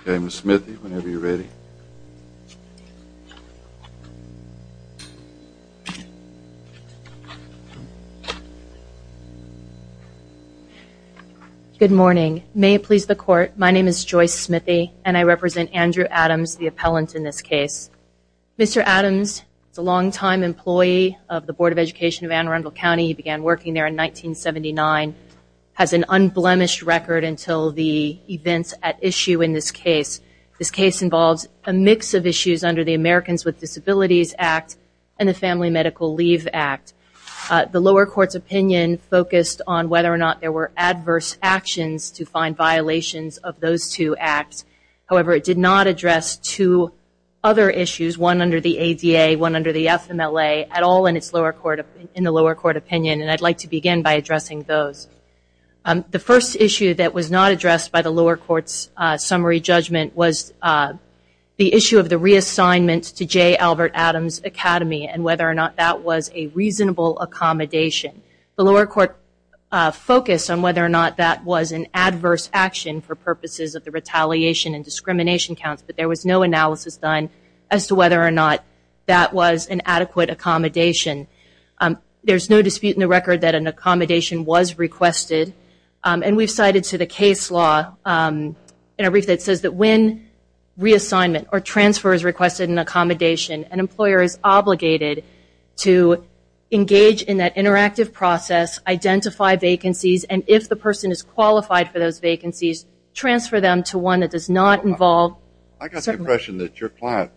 Okay, Ms. Smithy, whenever you're ready. Good morning. May it please the court, my name is Joyce Smithy and I represent Andrew Adams, the appellant in this case. Mr. Adams is a longtime employee of the Board of Education of Anne Arundel County. He began working there in 1979, has an issue in this case. This case involves a mix of issues under the Americans with Disabilities Act and the Family Medical Leave Act. The lower court's opinion focused on whether or not there were adverse actions to find violations of those two acts. However, it did not address two other issues, one under the ADA, one under the FMLA, at all in the lower court opinion. And I'd like to begin by addressing those. The first issue that was not addressed by the lower court's summary judgment was the issue of the reassignment to J. Albert Adams Academy and whether or not that was a reasonable accommodation. The lower court focused on whether or not that was an adverse action for purposes of the retaliation and discrimination counts, but there was no analysis done as to whether or not that was an adequate accommodation. There's no dispute in the brief that says that when reassignment or transfer is requested in accommodation, an employer is obligated to engage in that interactive process, identify vacancies, and if the person is qualified for those vacancies, transfer them to one that does not involve... I got the impression that your client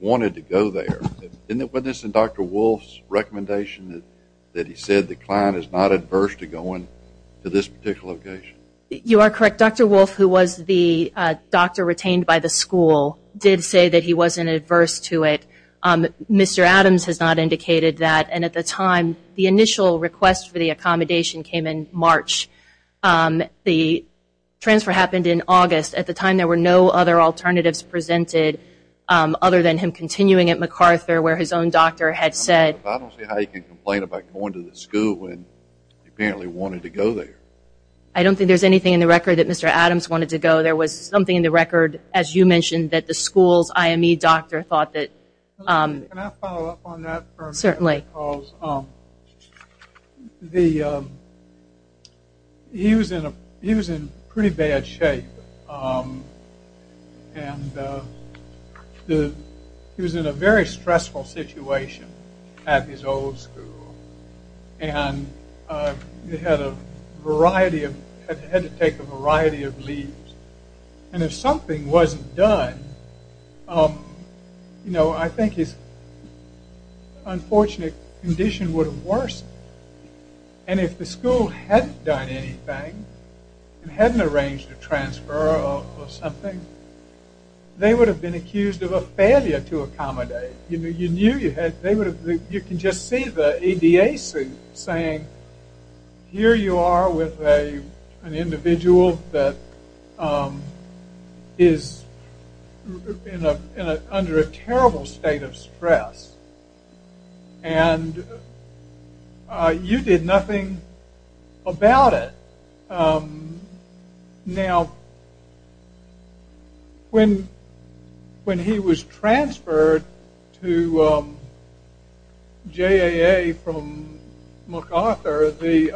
wanted to go there. Isn't it witness in Dr. Wolf's recommendation that he said the client is not adverse to going to this particular location? You are correct. Dr. Wolf, who was the doctor retained by the school, did say that he wasn't adverse to it. Mr. Adams has not indicated that. And at the time, the initial request for the accommodation came in March. The transfer happened in August. At the time, there were no other alternatives presented other than him continuing at MacArthur where his own doctor had said... I don't see how you can complain about going to the school when he apparently wanted to go there. I don't think there's anything in the record that Mr. Adams wanted to go. There was something in the record, as you mentioned, that the school's IME doctor thought that... Can I follow up on that? Certainly. Because he was in pretty bad shape. And he was in a very stressful situation at his old school. And he had to take a variety of leaves. And if something wasn't done, I think his unfortunate condition would have worsened. And if the school hadn't done anything and hadn't arranged a transfer or something, they would have been accused of a failure to accommodate. You knew they would have... You can just see the EDA saying, here you are with an individual that is under a terrible state of stress. And you did nothing about it. Now, when he was transferred to JAA from MacArthur, the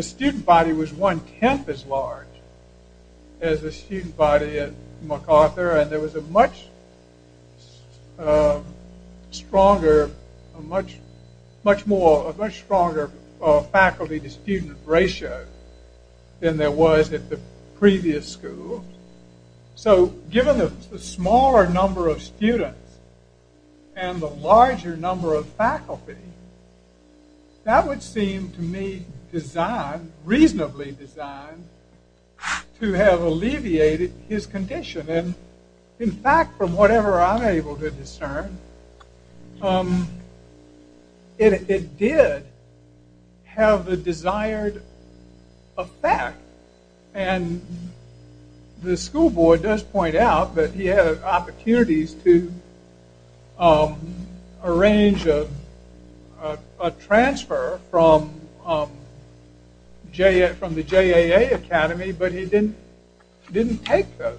student body was one-tenth as large as the student body at MacArthur. And there was a much stronger, a much stronger faculty-to-student ratio than there was at the previous school. So, given the smaller number of students and the larger number of faculty, that would seem to me designed, reasonably designed, to have it did have the desired effect. And the school board does point out that he had opportunities to arrange a transfer from the JAA Academy, but he didn't take those.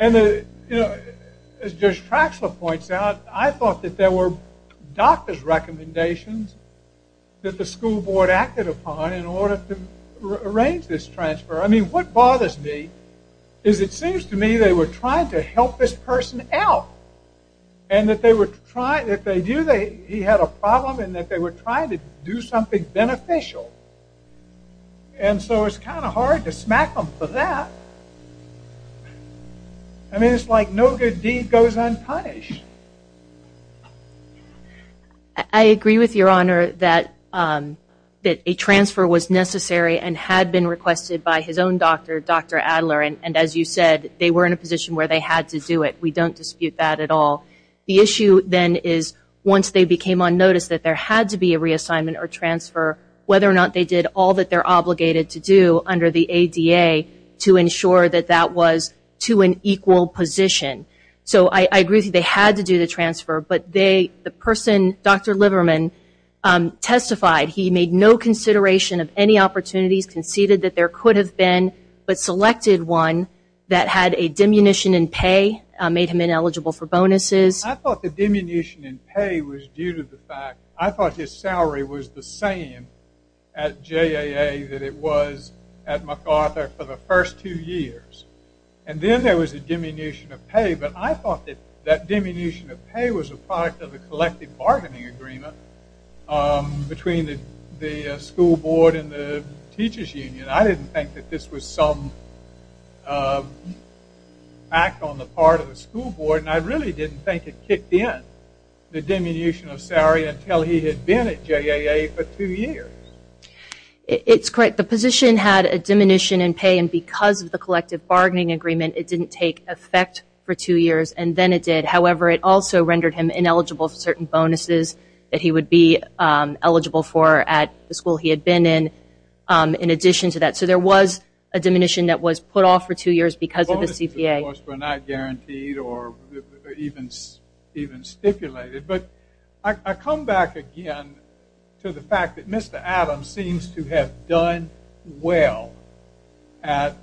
And as Judge Traxler points out, I thought that there were doctor's recommendations that the school board acted upon in order to arrange this transfer. I mean, what bothers me is it seems to me they were trying to help this person out. And that they were trying... If they knew he had a problem and that they were trying to do something beneficial. And so, it's kind of hard to smack them for that. I mean, it's like no good deed goes unpunished. I agree with your honor that a transfer was necessary and had been requested by his own doctor, Dr. Adler. And as you said, they were in a position where they had to do it. We don't dispute that at all. The issue then is once they became on notice that there had to be a reassignment or transfer, whether or not they did all that they're obligated to do under the ADA to ensure that that was to an equal position. So, I agree that they had to do the transfer, but the person, Dr. Liverman, testified he made no consideration of any opportunities, conceded that there could have been, but selected one that had a diminution in pay, made him ineligible for bonuses. I thought the diminution in pay was due to the fact, I thought his salary was the same at JAA that it was at MacArthur for the first two years. And then there was a diminution of pay, but I thought that that diminution of pay was a product of the collective bargaining agreement between the school board and the teachers union. I didn't think that this was some act on the part of the school board, and I really didn't think it until he had been at JAA for two years. It's correct. The position had a diminution in pay, and because of the collective bargaining agreement, it didn't take effect for two years, and then it did. However, it also rendered him ineligible for certain bonuses that he would be eligible for at the school he had been in, in addition to that. So, there was a diminution that was put off for two years because of the CPA. Bonuses, of course, were not guaranteed or even stipulated. But, I come back again to the fact that Mr. Adams seems to have done well at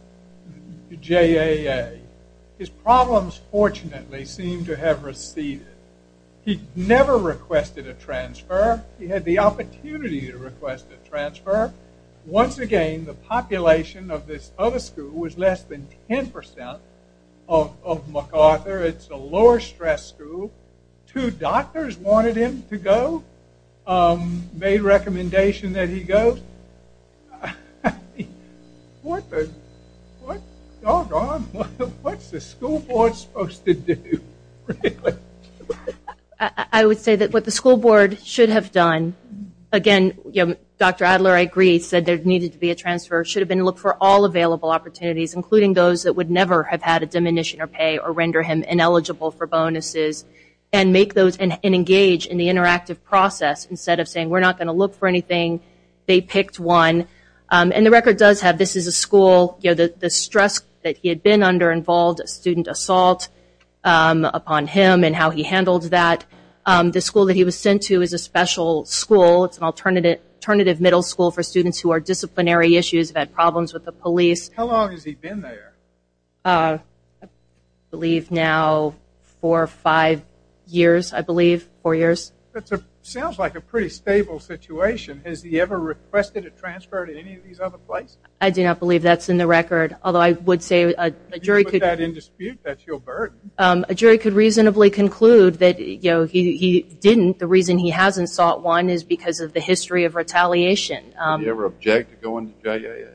JAA. His problems, fortunately, seem to have receded. He never requested a transfer. He had the opportunity to request a transfer. Once again, the population of this other school was less than 10% of MacArthur. It's a lower stress school, two doctors wanted him to go, made a recommendation that he go. What's the school board supposed to do? I would say that what the school board should have done, again, Dr. Adler, I agree, said there needed to be a transfer, should have been looked for all available opportunities, including those that would never have had a diminution of pay or render him ineligible for bonuses, and make those and engage in the interactive process. Instead of saying, we're not going to look for anything, they picked one. And the record does have this is a school, you know, the stress that he had been under involved student assault upon him and how he handled that. The school that he was sent to is a special school. It's an alternative middle school for students who are disciplinary issues, had problems with the police. How long has he been there? I believe now four or five years, I believe, four years. That sounds like a pretty stable situation. Has he ever requested a transfer to any of these other places? I do not believe that's in the record, although I would say a jury could reasonably conclude that, you know, he didn't. The reason he hasn't sought one is because of the history of retaliation. Did he ever object to going to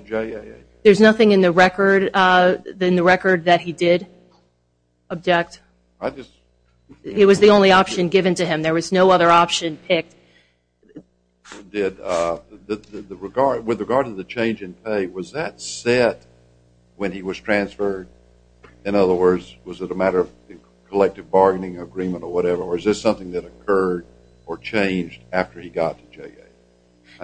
JAA? There's nothing in the record that he did object. It was the only option given to him. There was no other option picked. With regard to the change in pay, was that set when he was transferred? In other words, was it a matter of collective bargaining agreement or whatever, or is this something that occurred or changed after he got to JAA?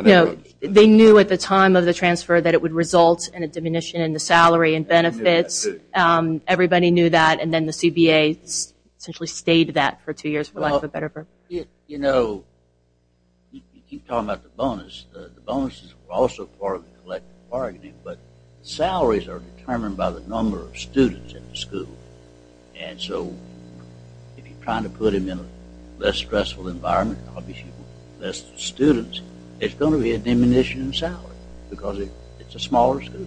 No, they knew at the time of the transfer that it would result in a diminution in the salary and benefits. Everybody knew that, and then the CBA essentially stayed that for two years for lack of a better term. You know, you keep talking about the bonus. The bonus is also part of the collective bargaining, but salaries are determined by the number of students in the school, and so if you're trying to put him in a less stressful environment, obviously less students, it's going to be a diminution in salary because it's a smaller school.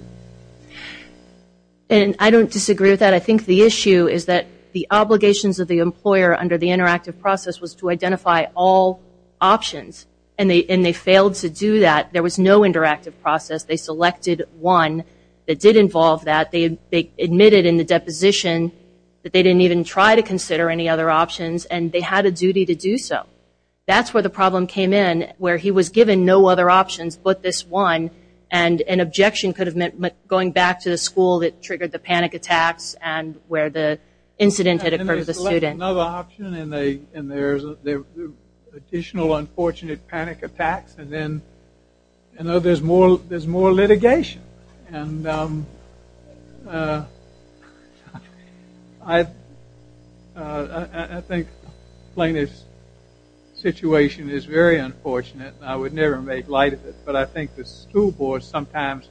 And I don't disagree with that. I think the issue is that the obligations of the employer under the interactive process was to identify all options, and they failed to do that. There was no interactive process. They selected one that did involve that. They admitted in the deposition that they didn't even try to consider any other options, and they had a duty to do so. That's where the problem came in, where he was given no other options but this one, and an objection could have meant going back to the school that triggered the panic attacks and where the incident had occurred to the student. And they selected another option, and there's additional unfortunate panic attacks, and then there's more litigation. And I think Plano's situation is very unfortunate. I would never make light of it, but I think the school boards sometimes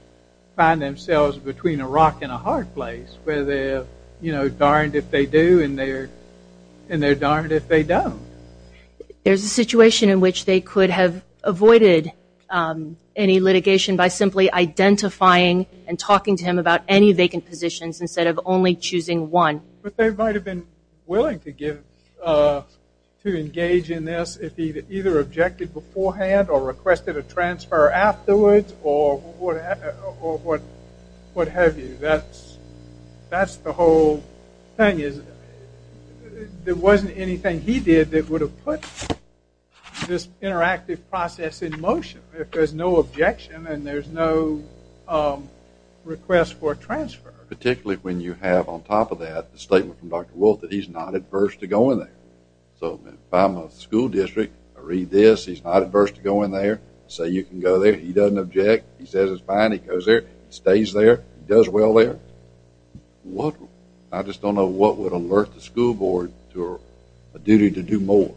find themselves between a rock and a hard place, where they're, you know, darned if they do, and they're darned if they don't. There's a situation in which they could have avoided any litigation by simply identifying and talking to him about any vacant positions instead of only choosing one. But they might have been willing to give, to engage in this if he'd either objected beforehand or requested a transfer afterwards or what have you. That's the whole thing. There wasn't anything he did that would have put this interactive process in motion if there's no objection and there's no request for transfer. Particularly when you have on top of that the statement from Dr. Wolfe that he's not adverse to going there. So if I'm a school district, I read this, he's not adverse to going there, say you can go there, he doesn't object, he says it's okay to go there. I just don't know what would alert the school board to a duty to do more.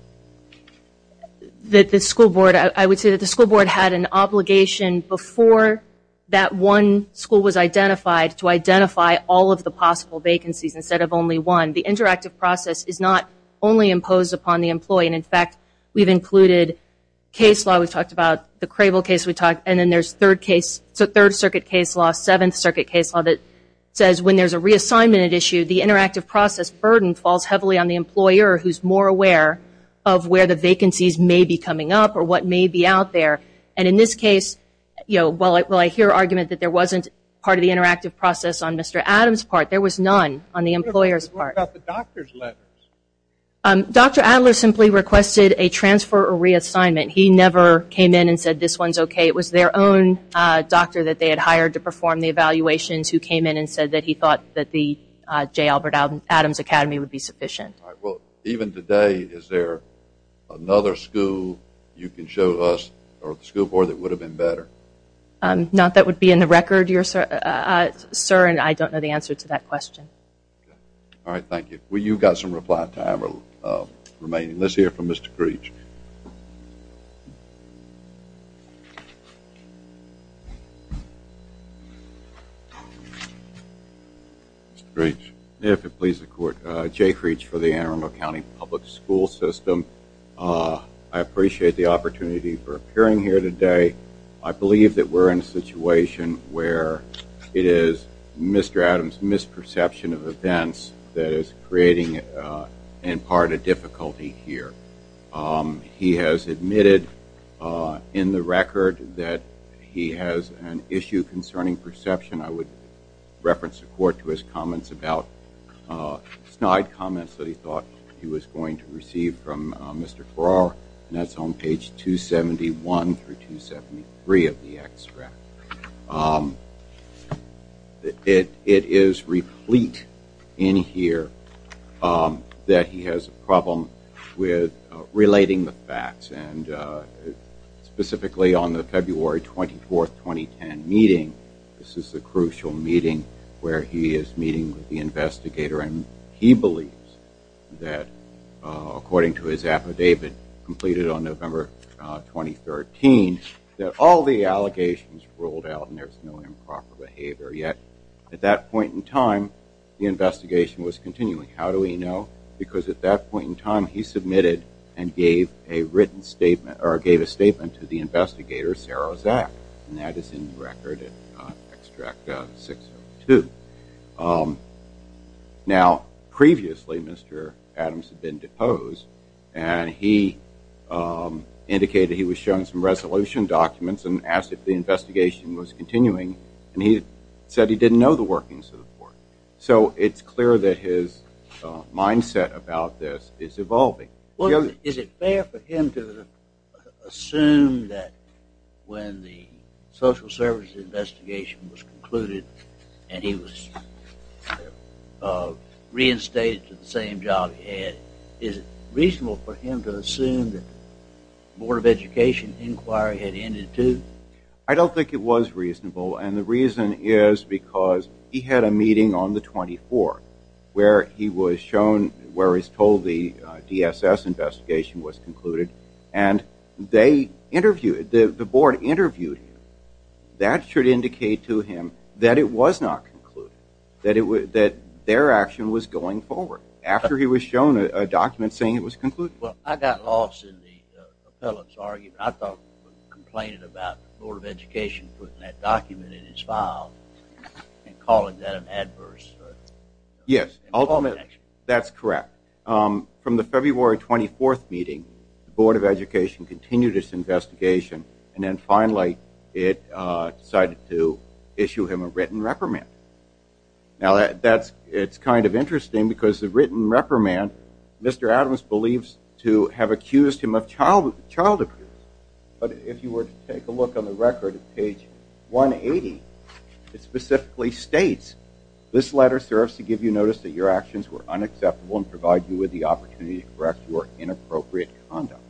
That the school board, I would say that the school board had an obligation before that one school was identified to identify all of the possible vacancies instead of only one. The interactive process is not only imposed upon the employee and in fact we've included case law, we've talked about the Crable case we talked and then there's third case, so third circuit case law, seventh circuit case law that says when there's a reassignment at issue, the interactive process burden falls heavily on the employer who's more aware of where the vacancies may be coming up or what may be out there. And in this case, you know, while I hear argument that there wasn't part of the interactive process on Mr. Adams' part, there was none on the employer's part. What about the doctor's letters? Dr. Adler simply requested a transfer or reassignment. He never came in and said this one's okay. It was their own doctor that they had hired to perform the evaluations who came in and said that he thought that the J. Albert Adams Academy would be sufficient. Even today, is there another school you can show us or the school board that would have been better? Not that would be in the record, sir, and I don't know the answer to that question. All right, thank you. Well, you've got some reply time remaining. Let's hear from Mr. Reach. If it pleases the court, Jake Reach for the Anne Arundel County Public School System. I appreciate the opportunity for appearing here today. I believe that we're in a situation where it is Mr. Adams' misperception of events that is creating, in part, a difficulty here. He has admitted in the record that he has an issue concerning perception. I would reference the court to his comments about snide comments that he thought he was going to receive from Mr. Farrar, and that's on page 271 through 273 of the extract. It is replete in here that he has a problem with relating the facts, and specifically on the February 24, 2010 meeting, this is a crucial meeting where he is meeting with the investigator, and he believes that, according to his affidavit completed on November 2013, that all the allegations rolled out and there's no improper behavior yet. At that point in time, the investigation was continuing. How do we know? Because at that point in time, he submitted and gave a written statement, or gave a statement to the investigator, Sarah Zack, and that is in the record in extract 602. Now, previously, Mr. Adams had been deposed, and he indicated he was shown some resolution documents and asked if the investigation was continuing, and he said he didn't know the workings of the court. So it's clear that his mindset about this is evolving. Well, is it fair for him to assume that when the social service investigation was concluded and he was reinstated to the same job he had, is it reasonable for him to assume that the Board of Education inquiry had ended too? I don't think it was reasonable, and the reason is because he had a meeting on November 24, where he was shown, where he was told the DSS investigation was concluded, and they interviewed, the Board interviewed him. That should indicate to him that it was not concluded, that their action was going forward, after he was shown a document saying it was concluded. Well, I got lost in the appellate's argument. I thought, complained about the Yes, that's correct. From the February 24th meeting, the Board of Education continued its investigation, and then finally it decided to issue him a written reprimand. Now, that's, it's kind of interesting because the written reprimand, Mr. Adams believes to have accused him of child abuse, but if you were to take a look at the record at page 180, it specifically states, this letter serves to give you notice that your actions were unacceptable and provide you with the opportunity to correct your inappropriate conduct.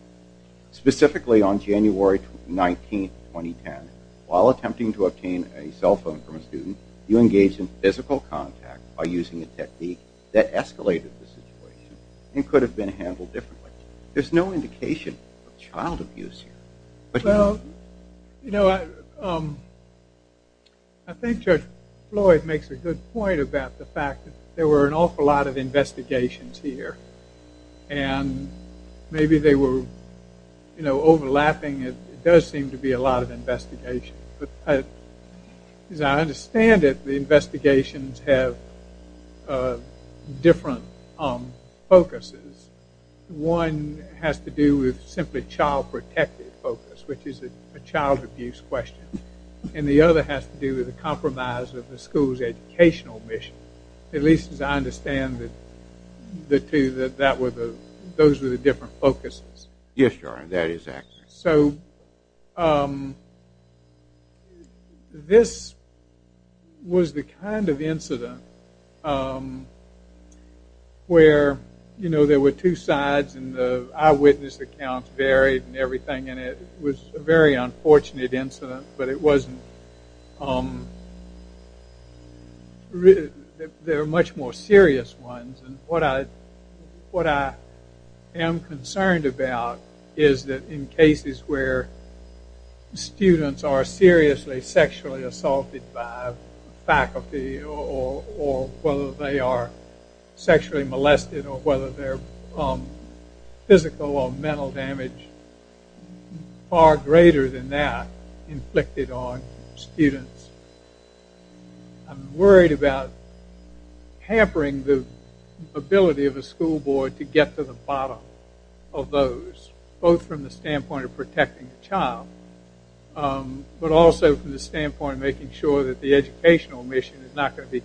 Specifically on January 19, 2010, while attempting to obtain a cell phone from a student, you engaged in physical contact by using a technique that escalated the situation and could have been handled differently. There's no indication of child abuse here. Well, you know, I think Judge Floyd makes a good point about the fact that there were an awful lot of investigations here, and maybe they were, you know, overlapping. It does seem to be a lot of investigations, but as I understand it, the investigations have different focuses. One has to do with simply child protective focus, which is a child abuse question, and the other has to do with the compromise of the school's educational mission, at least as I understand that those were the different focuses. Yes, Your Honor, that is accurate. So, this was the kind of incident where, you know, there were two sides and the eyewitness accounts varied and everything, and it was a very unfortunate incident, but it wasn't, there were much more serious ones, and what I am concerned about is that in cases where students are seriously sexually assaulted by faculty or whether they are sexually molested or whether they're physically or mentally damaged, far greater than that inflicted on students. I'm worried about hampering the ability of a school board to get to the bottom of those, both from the standpoint of protecting the child, but also from the standpoint of making sure that the educational mission is not going to be incident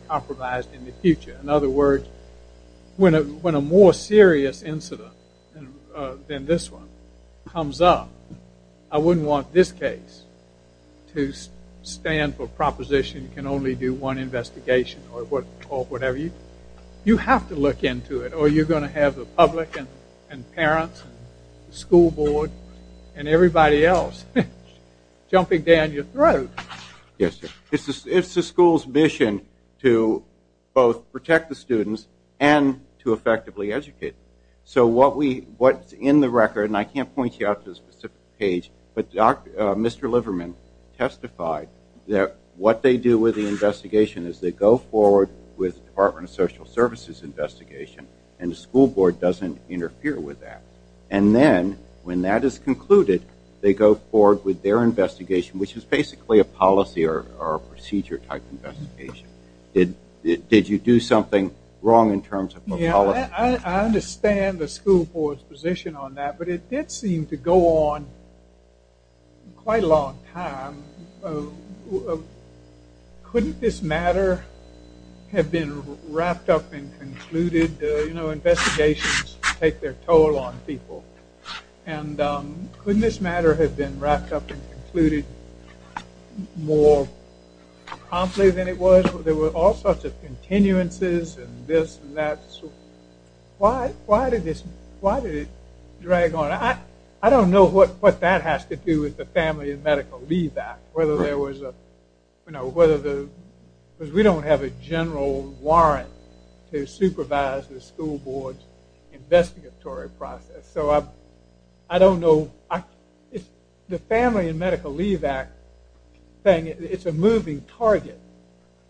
than this one comes up. I wouldn't want this case to stand for proposition can only do one investigation or whatever. You have to look into it or you're going to have the public and parents and school board and everybody else jumping down your throat. Yes, sir. It's the school's mission to both protect the students and to protect the faculty. So what we, what's in the record, and I can't point you out to a specific page, but Mr. Liverman testified that what they do with the investigation is they go forward with Department of Social Services investigation and the school board doesn't interfere with that. And then when that is concluded, they go forward with their investigation, which is basically a policy or procedure type investigation. Did you do something wrong in terms of policy? I understand the school board's position on that, but it did seem to go on quite a long time. Couldn't this matter have been wrapped up and concluded? You know, investigations take their toll on people. And couldn't this matter have been wrapped up and concluded more promptly than it was? There were all sorts of things. Why did it drag on? I don't know what that has to do with the Family and Medical Leave Act. Because we don't have a general warrant to supervise the school board's investigatory process. So I don't know. The Family and Medical Leave Act thing, it's a moving target.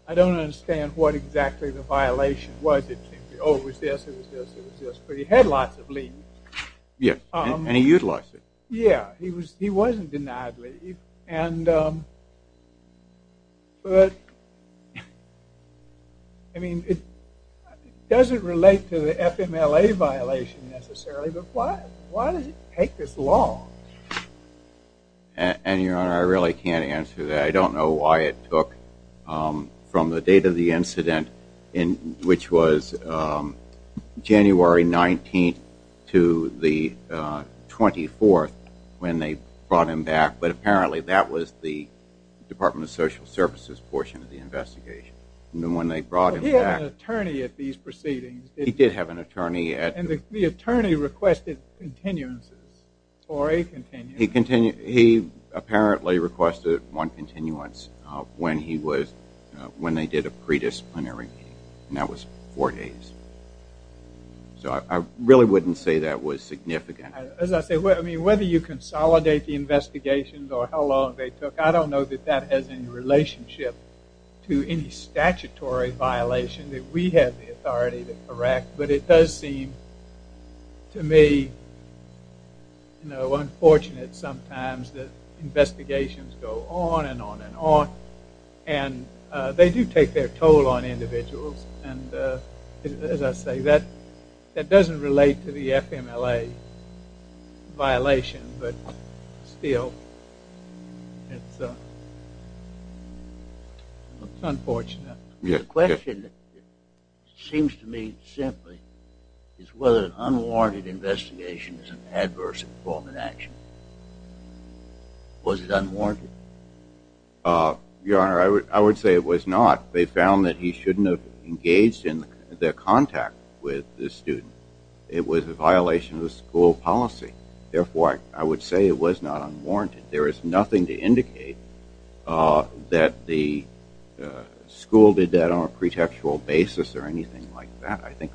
I don't understand what exactly the It was this, it was this, it was this. But he had lots of leave. Yes, and he utilized it. Yeah, he wasn't denied leave. But, I mean, it doesn't relate to the FMLA violation necessarily, but why did it take this long? And, Your Honor, I really can't answer that. I don't know why it took from the date of the incident, which was January 19th to the 24th, when they brought him back. But apparently that was the Department of Social Services portion of the investigation. And when they brought him back... But he had an attorney at these proceedings, didn't he? He did have an attorney at... And the attorney requested continuances, or a continuance. He apparently requested one continuance when he was, when they did a predisciplinary meeting. And that was four days. So I really wouldn't say that was significant. As I say, whether you consolidate the investigations or how long they took, I don't know that that has any relationship to any statutory violation that we have the authority to correct. But it does seem to me, you know, unfortunate sometimes that investigations go on and on and on. And they do take their toll on individuals. And, as I say, that doesn't relate to the FMLA violation. But still, it's unfortunate. The question seems to me simply is whether an unwarranted investigation is an adverse form of action. Was it unwarranted? Your Honor, I would say it was not. They found that he shouldn't have engaged in their contact with the student. It was a violation of the school policy. Therefore, I would say it was not unwarranted. There is nothing to indicate that the school did that on a pretextual basis or anything like that. I think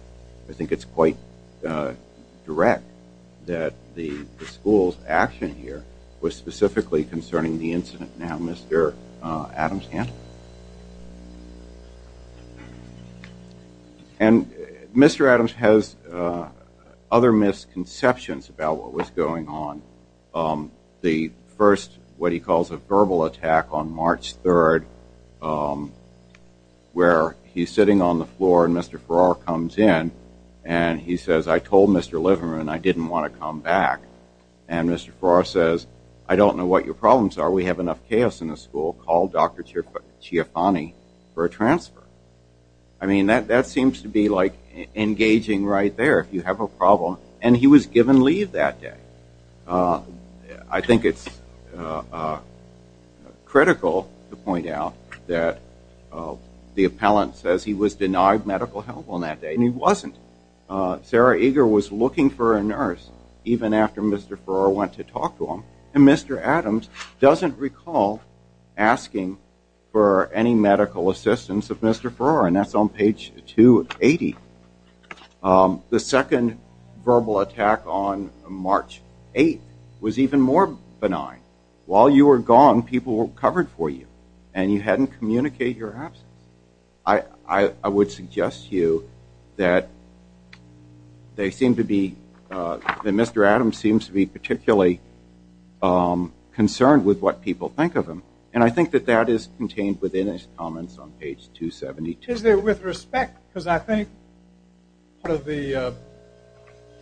it's quite direct that the school's action here was specifically concerning the incident. Now, Mr. Adams can. And Mr. Adams has other misconceptions about what was going on. The first, what was the school attack on March 3rd where he's sitting on the floor and Mr. Farrar comes in and he says, I told Mr. Liverman I didn't want to come back. And Mr. Farrar says, I don't know what your problems are. We have enough chaos in the school. Call Dr. Chiafani for a transfer. I mean, that seems to be like engaging right there if you have a problem. And he was given leave that day. I think it's critical to point out that the appellant says he was denied medical help on that day. And he wasn't. Sarah Eager was looking for a nurse even after Mr. Farrar went to talk to him. And Mr. Adams doesn't recall asking for any medical assistance of Mr. Farrar. And that's on page 280. The second verbal attack on March 8th was even more benign. While you were gone, people were covered for you. And you hadn't communicated your absence. I would suggest to you that they seem to be, that Mr. Adams seems to be particularly concerned with what people think of him. And I think that that is contained within his comments on page 272. Is there, with respect, because I think part of the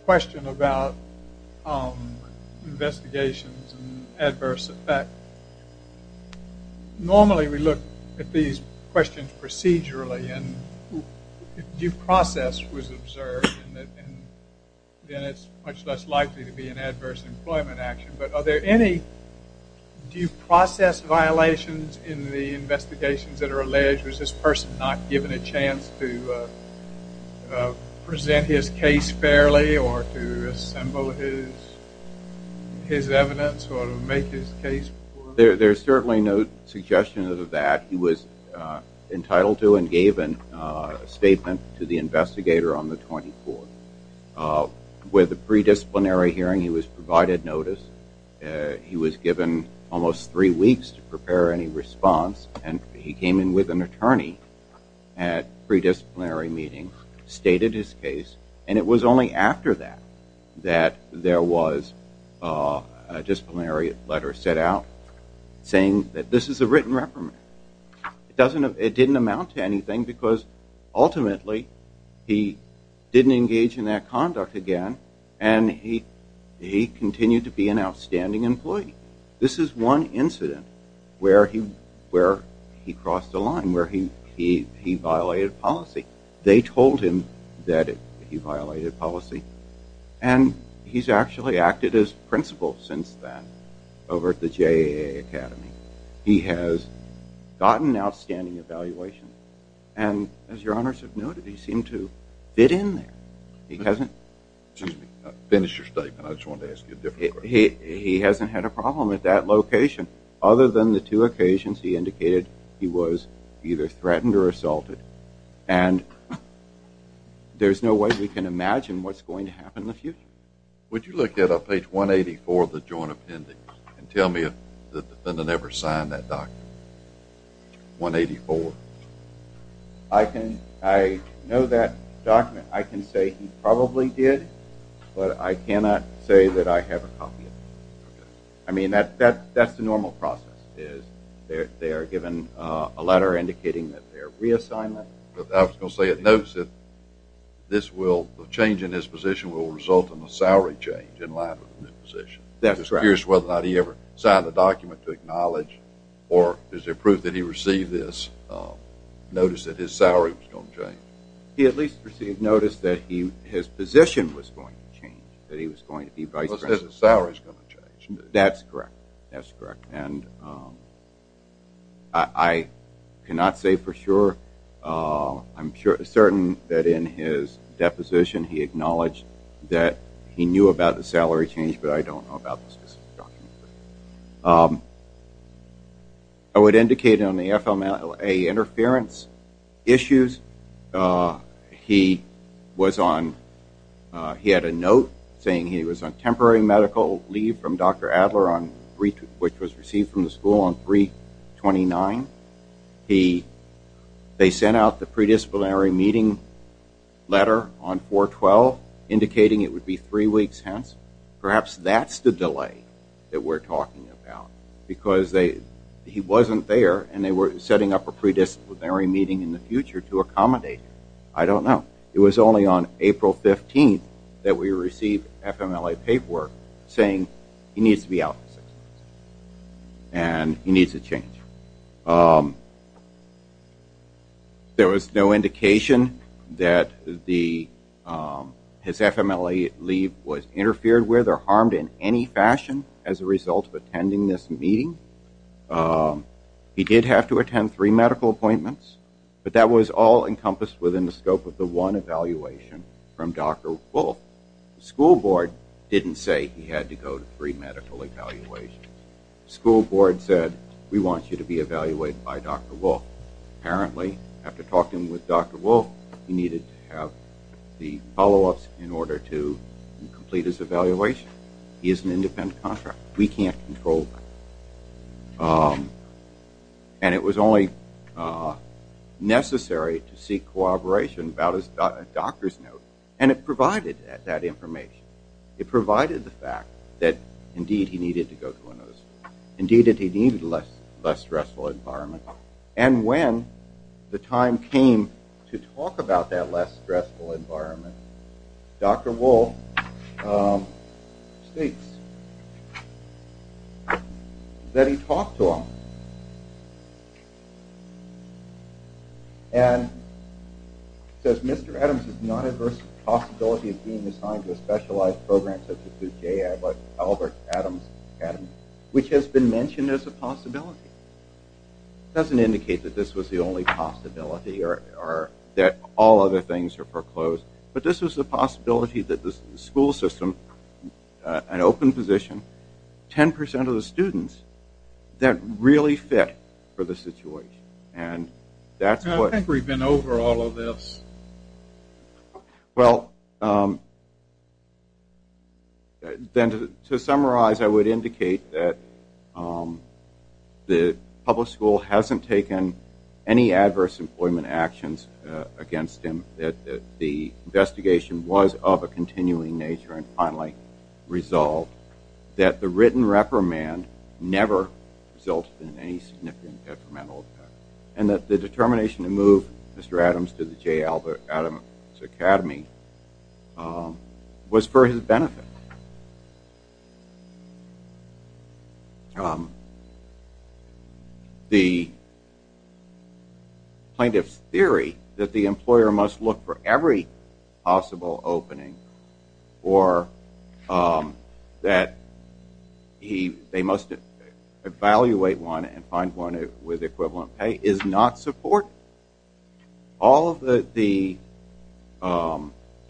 question about investigations and adverse effect, normally we look at these questions procedurally. And if due process was observed, then it's much less likely to be an adverse employment action. But are there any due process violations in the investigations that are alleged? Was this person not given a chance to present his case fairly or to assemble his evidence or make his case? There's certainly no suggestion of that. He was entitled to and gave a statement to the investigator on the 24th. With the pre-disciplinary hearing, he was unable to prepare any response and he came in with an attorney at pre-disciplinary meeting, stated his case, and it was only after that that there was a disciplinary letter sent out saying that this is a written reprimand. It didn't amount to anything because ultimately he didn't engage in that conduct again and he continued to be an outstanding employee. This is one incident where he crossed a line, where he violated policy. They told him that he violated policy and he's actually acted as principal since then over at the JAA Academy. He has gotten outstanding evaluation and as your honors have noted, he seemed to fit in there. Excuse me. Finish your statement. I just wanted to ask you a different question. He hasn't had a problem at that location. Other than the two occasions he indicated he was either threatened or assaulted and there's no way we can imagine what's going to happen in the future. Would you look at page 184 of the joint appendix and tell me if the defendant ever signed that document? 184. I know that document. I can say he probably did, but I cannot say that I have a copy of it. I mean, that's the normal process is they are given a letter indicating that they are reassigned. I was going to say it notes that the change in his position will result in a salary change in light of the new position. I'm just curious whether or not he ever signed the document to acknowledge or is there proof that he received this notice that his salary was going to change? He at least received notice that his position was going to change, that he was going to be vice president. Because his salary is going to change. That's correct. That's correct. And I cannot say for sure. I'm certain that in his deposition he acknowledged that he knew about the salary change, but I don't know about the specific document. I would indicate on the FMLA interference issues, he was on, he had a note saying he was on temporary medical leave from Dr. Adler which was received from the school on 3-29. They sent out the predisciplinary meeting letter on 4-12 indicating it would be three weeks hence. Perhaps that's the delay that we're talking about. Because he wasn't there and they were setting up a predisciplinary meeting in the future to accommodate him. I don't know. It was only on April 15th that we received FMLA paperwork saying he needs to be out. And he needs to change. There was no indication that the, his FMLA leave was interfered with or harmed in any fashion as a result of attending this meeting. He did have to attend three medical appointments, but that was all encompassed within the scope of the one evaluation from Dr. Wolfe. The school board didn't say he had to go to three medical evaluations. The school board said, we want you to be evaluated by Dr. Wolfe. Apparently, after talking with Dr. Wolfe, he needed to have the follow-ups in order to complete his evaluation. He has an independent contract. We can't control that. And it was only necessary to seek cooperation about a doctor's note. And it provided that information. It provided the fact that, indeed, he needed to go to another school. Indeed, he needed a less stressful environment. And when the time came to talk about that less stressful environment, Dr. Wolfe states that he talked to him and says, Mr. Adams is not adverse to the possibility of being assigned to a specialized program such as the J. Albert Adams Academy, which has been mentioned as a possibility. It doesn't indicate that this was the only possibility or that all other things are foreclosed. But this was a possibility that the school system, an open position, 10% of the students that really fit for the situation. I think we've been over all of this. Well, then to summarize, I would indicate that the public school hasn't taken any adverse employment actions against him, that the investigation was of a continuing nature, and finally resolved that the written reprimand never resulted in any significant detrimental effect and that the determination to move Mr. Adams to the J. Albert Adams Academy was for his benefit. The plaintiff's theory that the employer must look for every possible opening or that they must evaluate one and find one with equivalent pay is not supported. All of the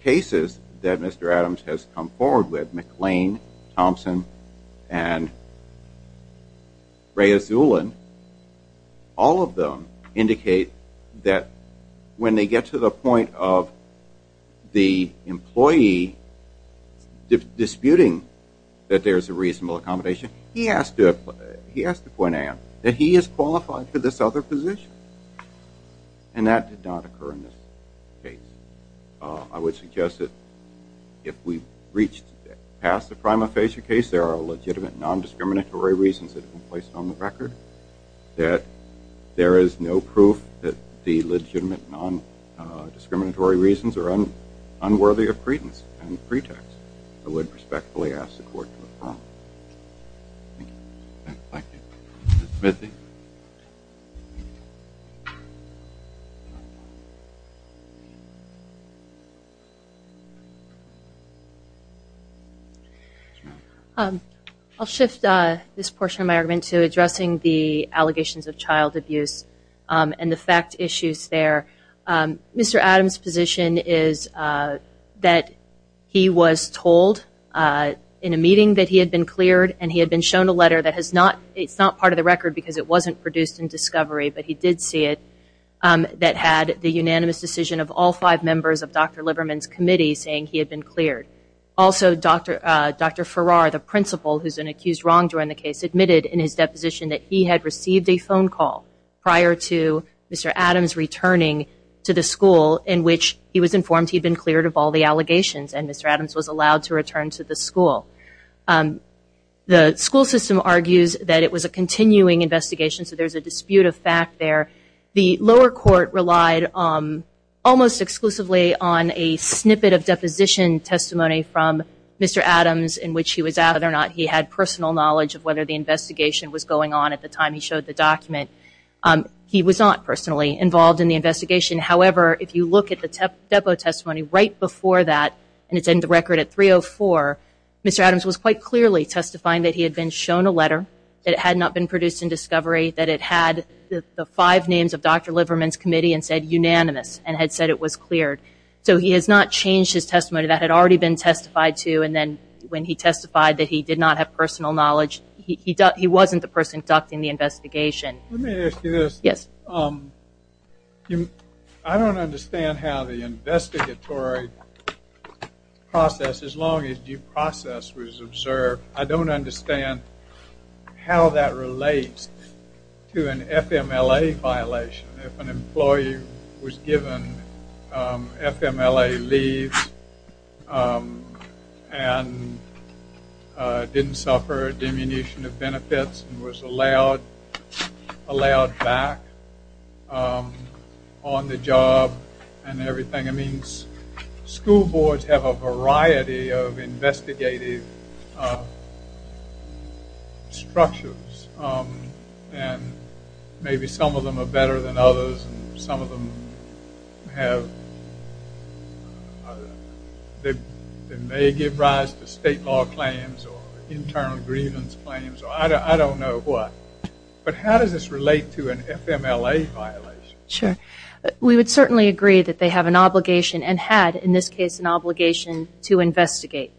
cases that Mr. Adams has come forward with, McLean, Thompson, and Rea Zulin, all of them indicate that when they get to the point of the employee disputing that there's a reasonable accommodation, he has to point out that he is qualified for this other position. And that did not occur in this case. I would suggest that if we reached past the prima facie case, that there are legitimate non-discriminatory reasons that have been placed on the record, that there is no proof that the legitimate non-discriminatory reasons are unworthy of credence and pretext. I would respectfully ask the court to affirm. Thank you. Ms. Smithy. I'll shift this portion of my argument to addressing the allegations of child abuse and the fact issues there. Mr. Adams' position is that he was told in a meeting that he had been cleared and he had been shown a letter that has not, it's not part of the record because it wasn't produced in discovery, but he did see it, that had the unanimous decision of all five members of Dr. Liverman's committee saying he had been cleared. Also, Dr. Farrar, the principal, who's been accused wrong during the case, admitted in his deposition that he had received a phone call prior to Mr. Adams' return to the school in which he was informed he had been cleared of all the allegations and Mr. Adams was allowed to return to the school. The school system argues that it was a continuing investigation, so there's a dispute of fact there. The lower court relied almost exclusively on a snippet of deposition testimony from Mr. Adams in which he was, whether or not he had personal knowledge of whether the investigation was going on at the time he showed the document. He was not personally involved in the investigation. However, if you look at the depo testimony right before that, and it's in the record at 304, Mr. Adams was quite clearly testifying that he had been shown a letter, that it had not been produced in discovery, that it had the five names of Dr. Liverman's committee and said unanimous and had said it was cleared. So he has not changed his testimony that had already been testified to and then when he testified that he did not have personal knowledge, he wasn't the person conducting the investigation. Let me ask you this. Yes. I don't understand how the investigatory process, as long as due process was observed, I don't understand how that relates to an FMLA violation. If an employee was given FMLA leave and didn't suffer a diminution of allowed back on the job and everything, it means school boards have a variety of investigative structures and maybe some of them are better than others and some of them have, they may give rise to state law claims or internal grievance claims. I don't know what. But how does this relate to an FMLA violation? Sure. We would certainly agree that they have an obligation and had in this case an obligation to investigate.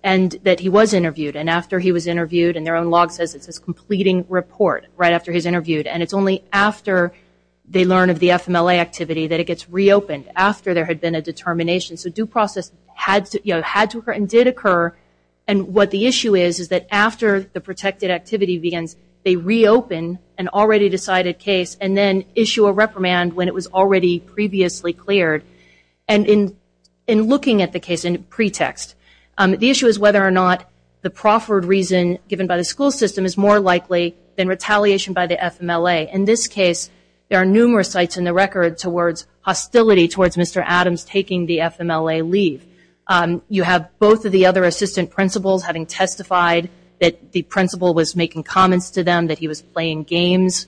And that he was interviewed and after he was interviewed and their own log says it's his completing report right after he's interviewed and it's only after they learn of the FMLA activity that it gets reopened, after there had been a determination. So due process had to occur and did occur and what the issue is is that after the protected activity begins, they reopen an already decided case and then issue a reprimand when it was already previously cleared. And in looking at the case in pretext, the issue is whether or not the proffered reason given by the school system is more likely than retaliation by the FMLA. In this case there are numerous sites in the record towards hostility towards Mr. Adams taking the FMLA leave. You have both of the other assistant principals having testified that the principal was making comments to them, that he was playing games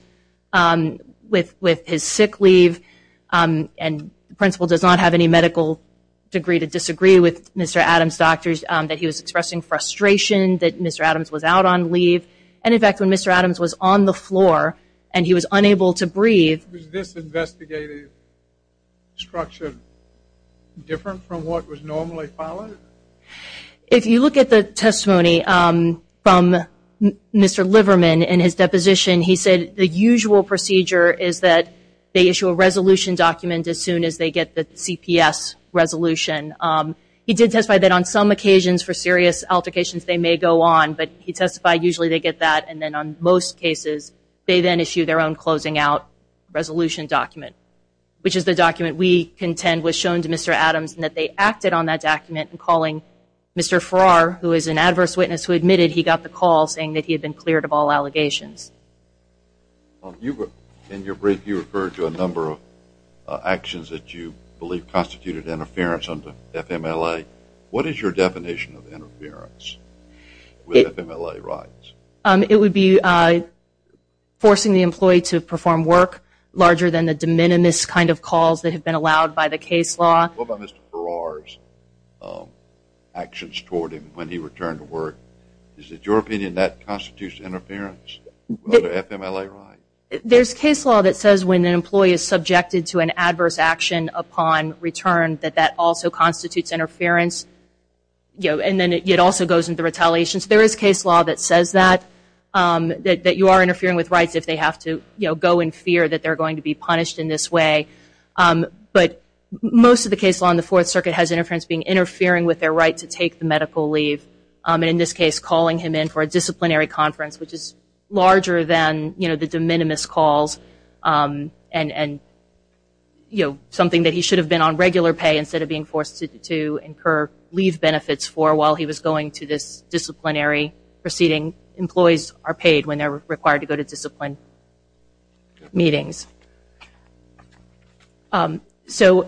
with his sick leave and the principal does not have any medical degree to disagree with Mr. Adams' doctors, that he was expressing frustration that Mr. Adams was out on leave and in fact when Mr. Adams was on the floor and he was unable to breathe. Was this investigative structure different from what was normally followed? If you look at the testimony from Mr. Liverman in his deposition, he said the usual procedure is that they issue a resolution document as soon as they get the CPS resolution. He did testify that on some occasions for serious altercations they may go on, but he testified usually they get that and then on most cases they then issue their own closing out resolution document which is the document we contend was shown to Mr. Adams and that they acted on that document in calling Mr. Farrar who is an adverse witness who admitted he got the call saying that he had been cleared of all allegations. In your brief you referred to a number of actions that you believe constituted interference under FMLA. What is your definition of interference with FMLA rights? It would be forcing the employee to perform work larger than the de minimis kind of calls that have been allowed by the case law. What about Mr. Farrar's actions toward him when he returned to work? Is it your opinion that constitutes interference under FMLA rights? There's case law that says when an employee is subjected to an adverse action upon return that that also constitutes interference and then it also goes into retaliation. So there is case law that says that, that you are interfering with rights if they have to go and fear that they're going to be punished in this way. But most of the case law in the Fourth Circuit has interference being interfering with their right to take the medical leave and in this case calling him in for a disciplinary conference which is larger than the de minimis calls and something that he should have been on regular pay instead of being forced to incur leave benefits for while he was going to this disciplinary proceeding. Employees are paid when they're required to go to discipline meetings. So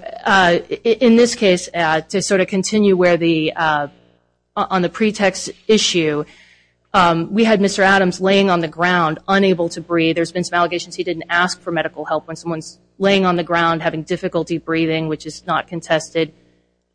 in this case, to sort of continue where the, on the pretext issue, we had Mr. Adams laying on the ground unable to breathe. There's been some allegations he didn't ask for medical help when someone's laying on the ground having difficulty breathing which is not contested.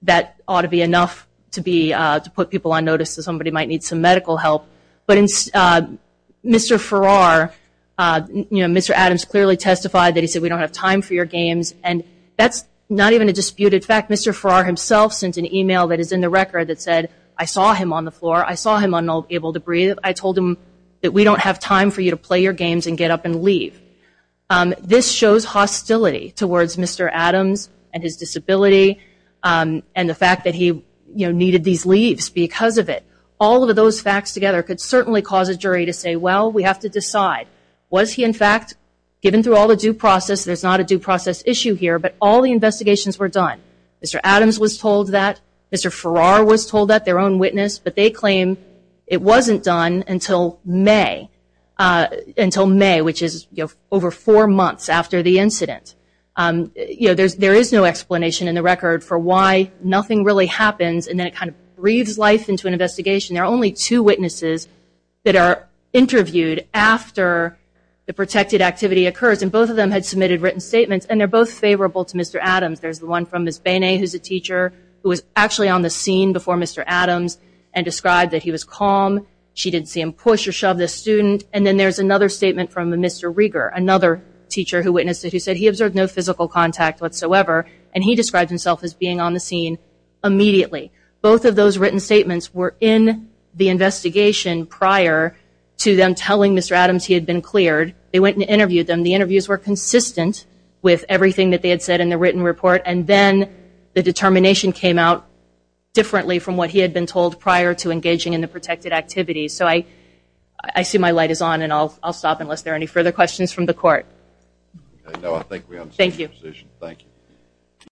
That ought to be enough to be, to put people on notice that somebody might need some medical help. But Mr. Farrar, you know, Mr. Adams clearly testified that he said we don't have time for your games and that's not even a disputed fact. Mr. Farrar himself sent an email that is in the record that said I saw him on the floor, I saw him unable to breathe, I told him that we don't have time for you to play your games and get up and leave. This shows hostility towards Mr. Adams and his disability and the fact that he, you know, needed these leaves because of it. All of those facts together could certainly cause a jury to say, well, we have to decide, was he in fact given through all the due process, there's not a due process issue here, but all the investigations were done. Mr. Adams was told that, Mr. Farrar was told that, their own witness, but they claim it wasn't done until May, which is over four months after the incident. You know, there is no explanation in the record for why nothing really happens and then it kind of breathes life into an investigation. There are only two witnesses that are interviewed after the protected activity occurs and both of them had submitted written statements and they're both favorable to Mr. Adams. There's the one from Ms. Bene, who's a teacher, who was actually on the scene before Mr. Adams and described that he was calm, she didn't see him push or shove the student, and then there's another statement from Mr. Rieger, another teacher who witnessed it, who said he observed no physical contact whatsoever and he described himself as being on the scene immediately. Both of those written statements were in the investigation prior to them telling Mr. Adams he had been cleared. They went and interviewed them. The interviews were consistent with everything that they had said in the written report and then the determination came out differently from what he had been told prior to engaging in the protected activity. So I see my light is on and I'll stop unless there are any further questions from the court. No, I think we understand the position. Thank you.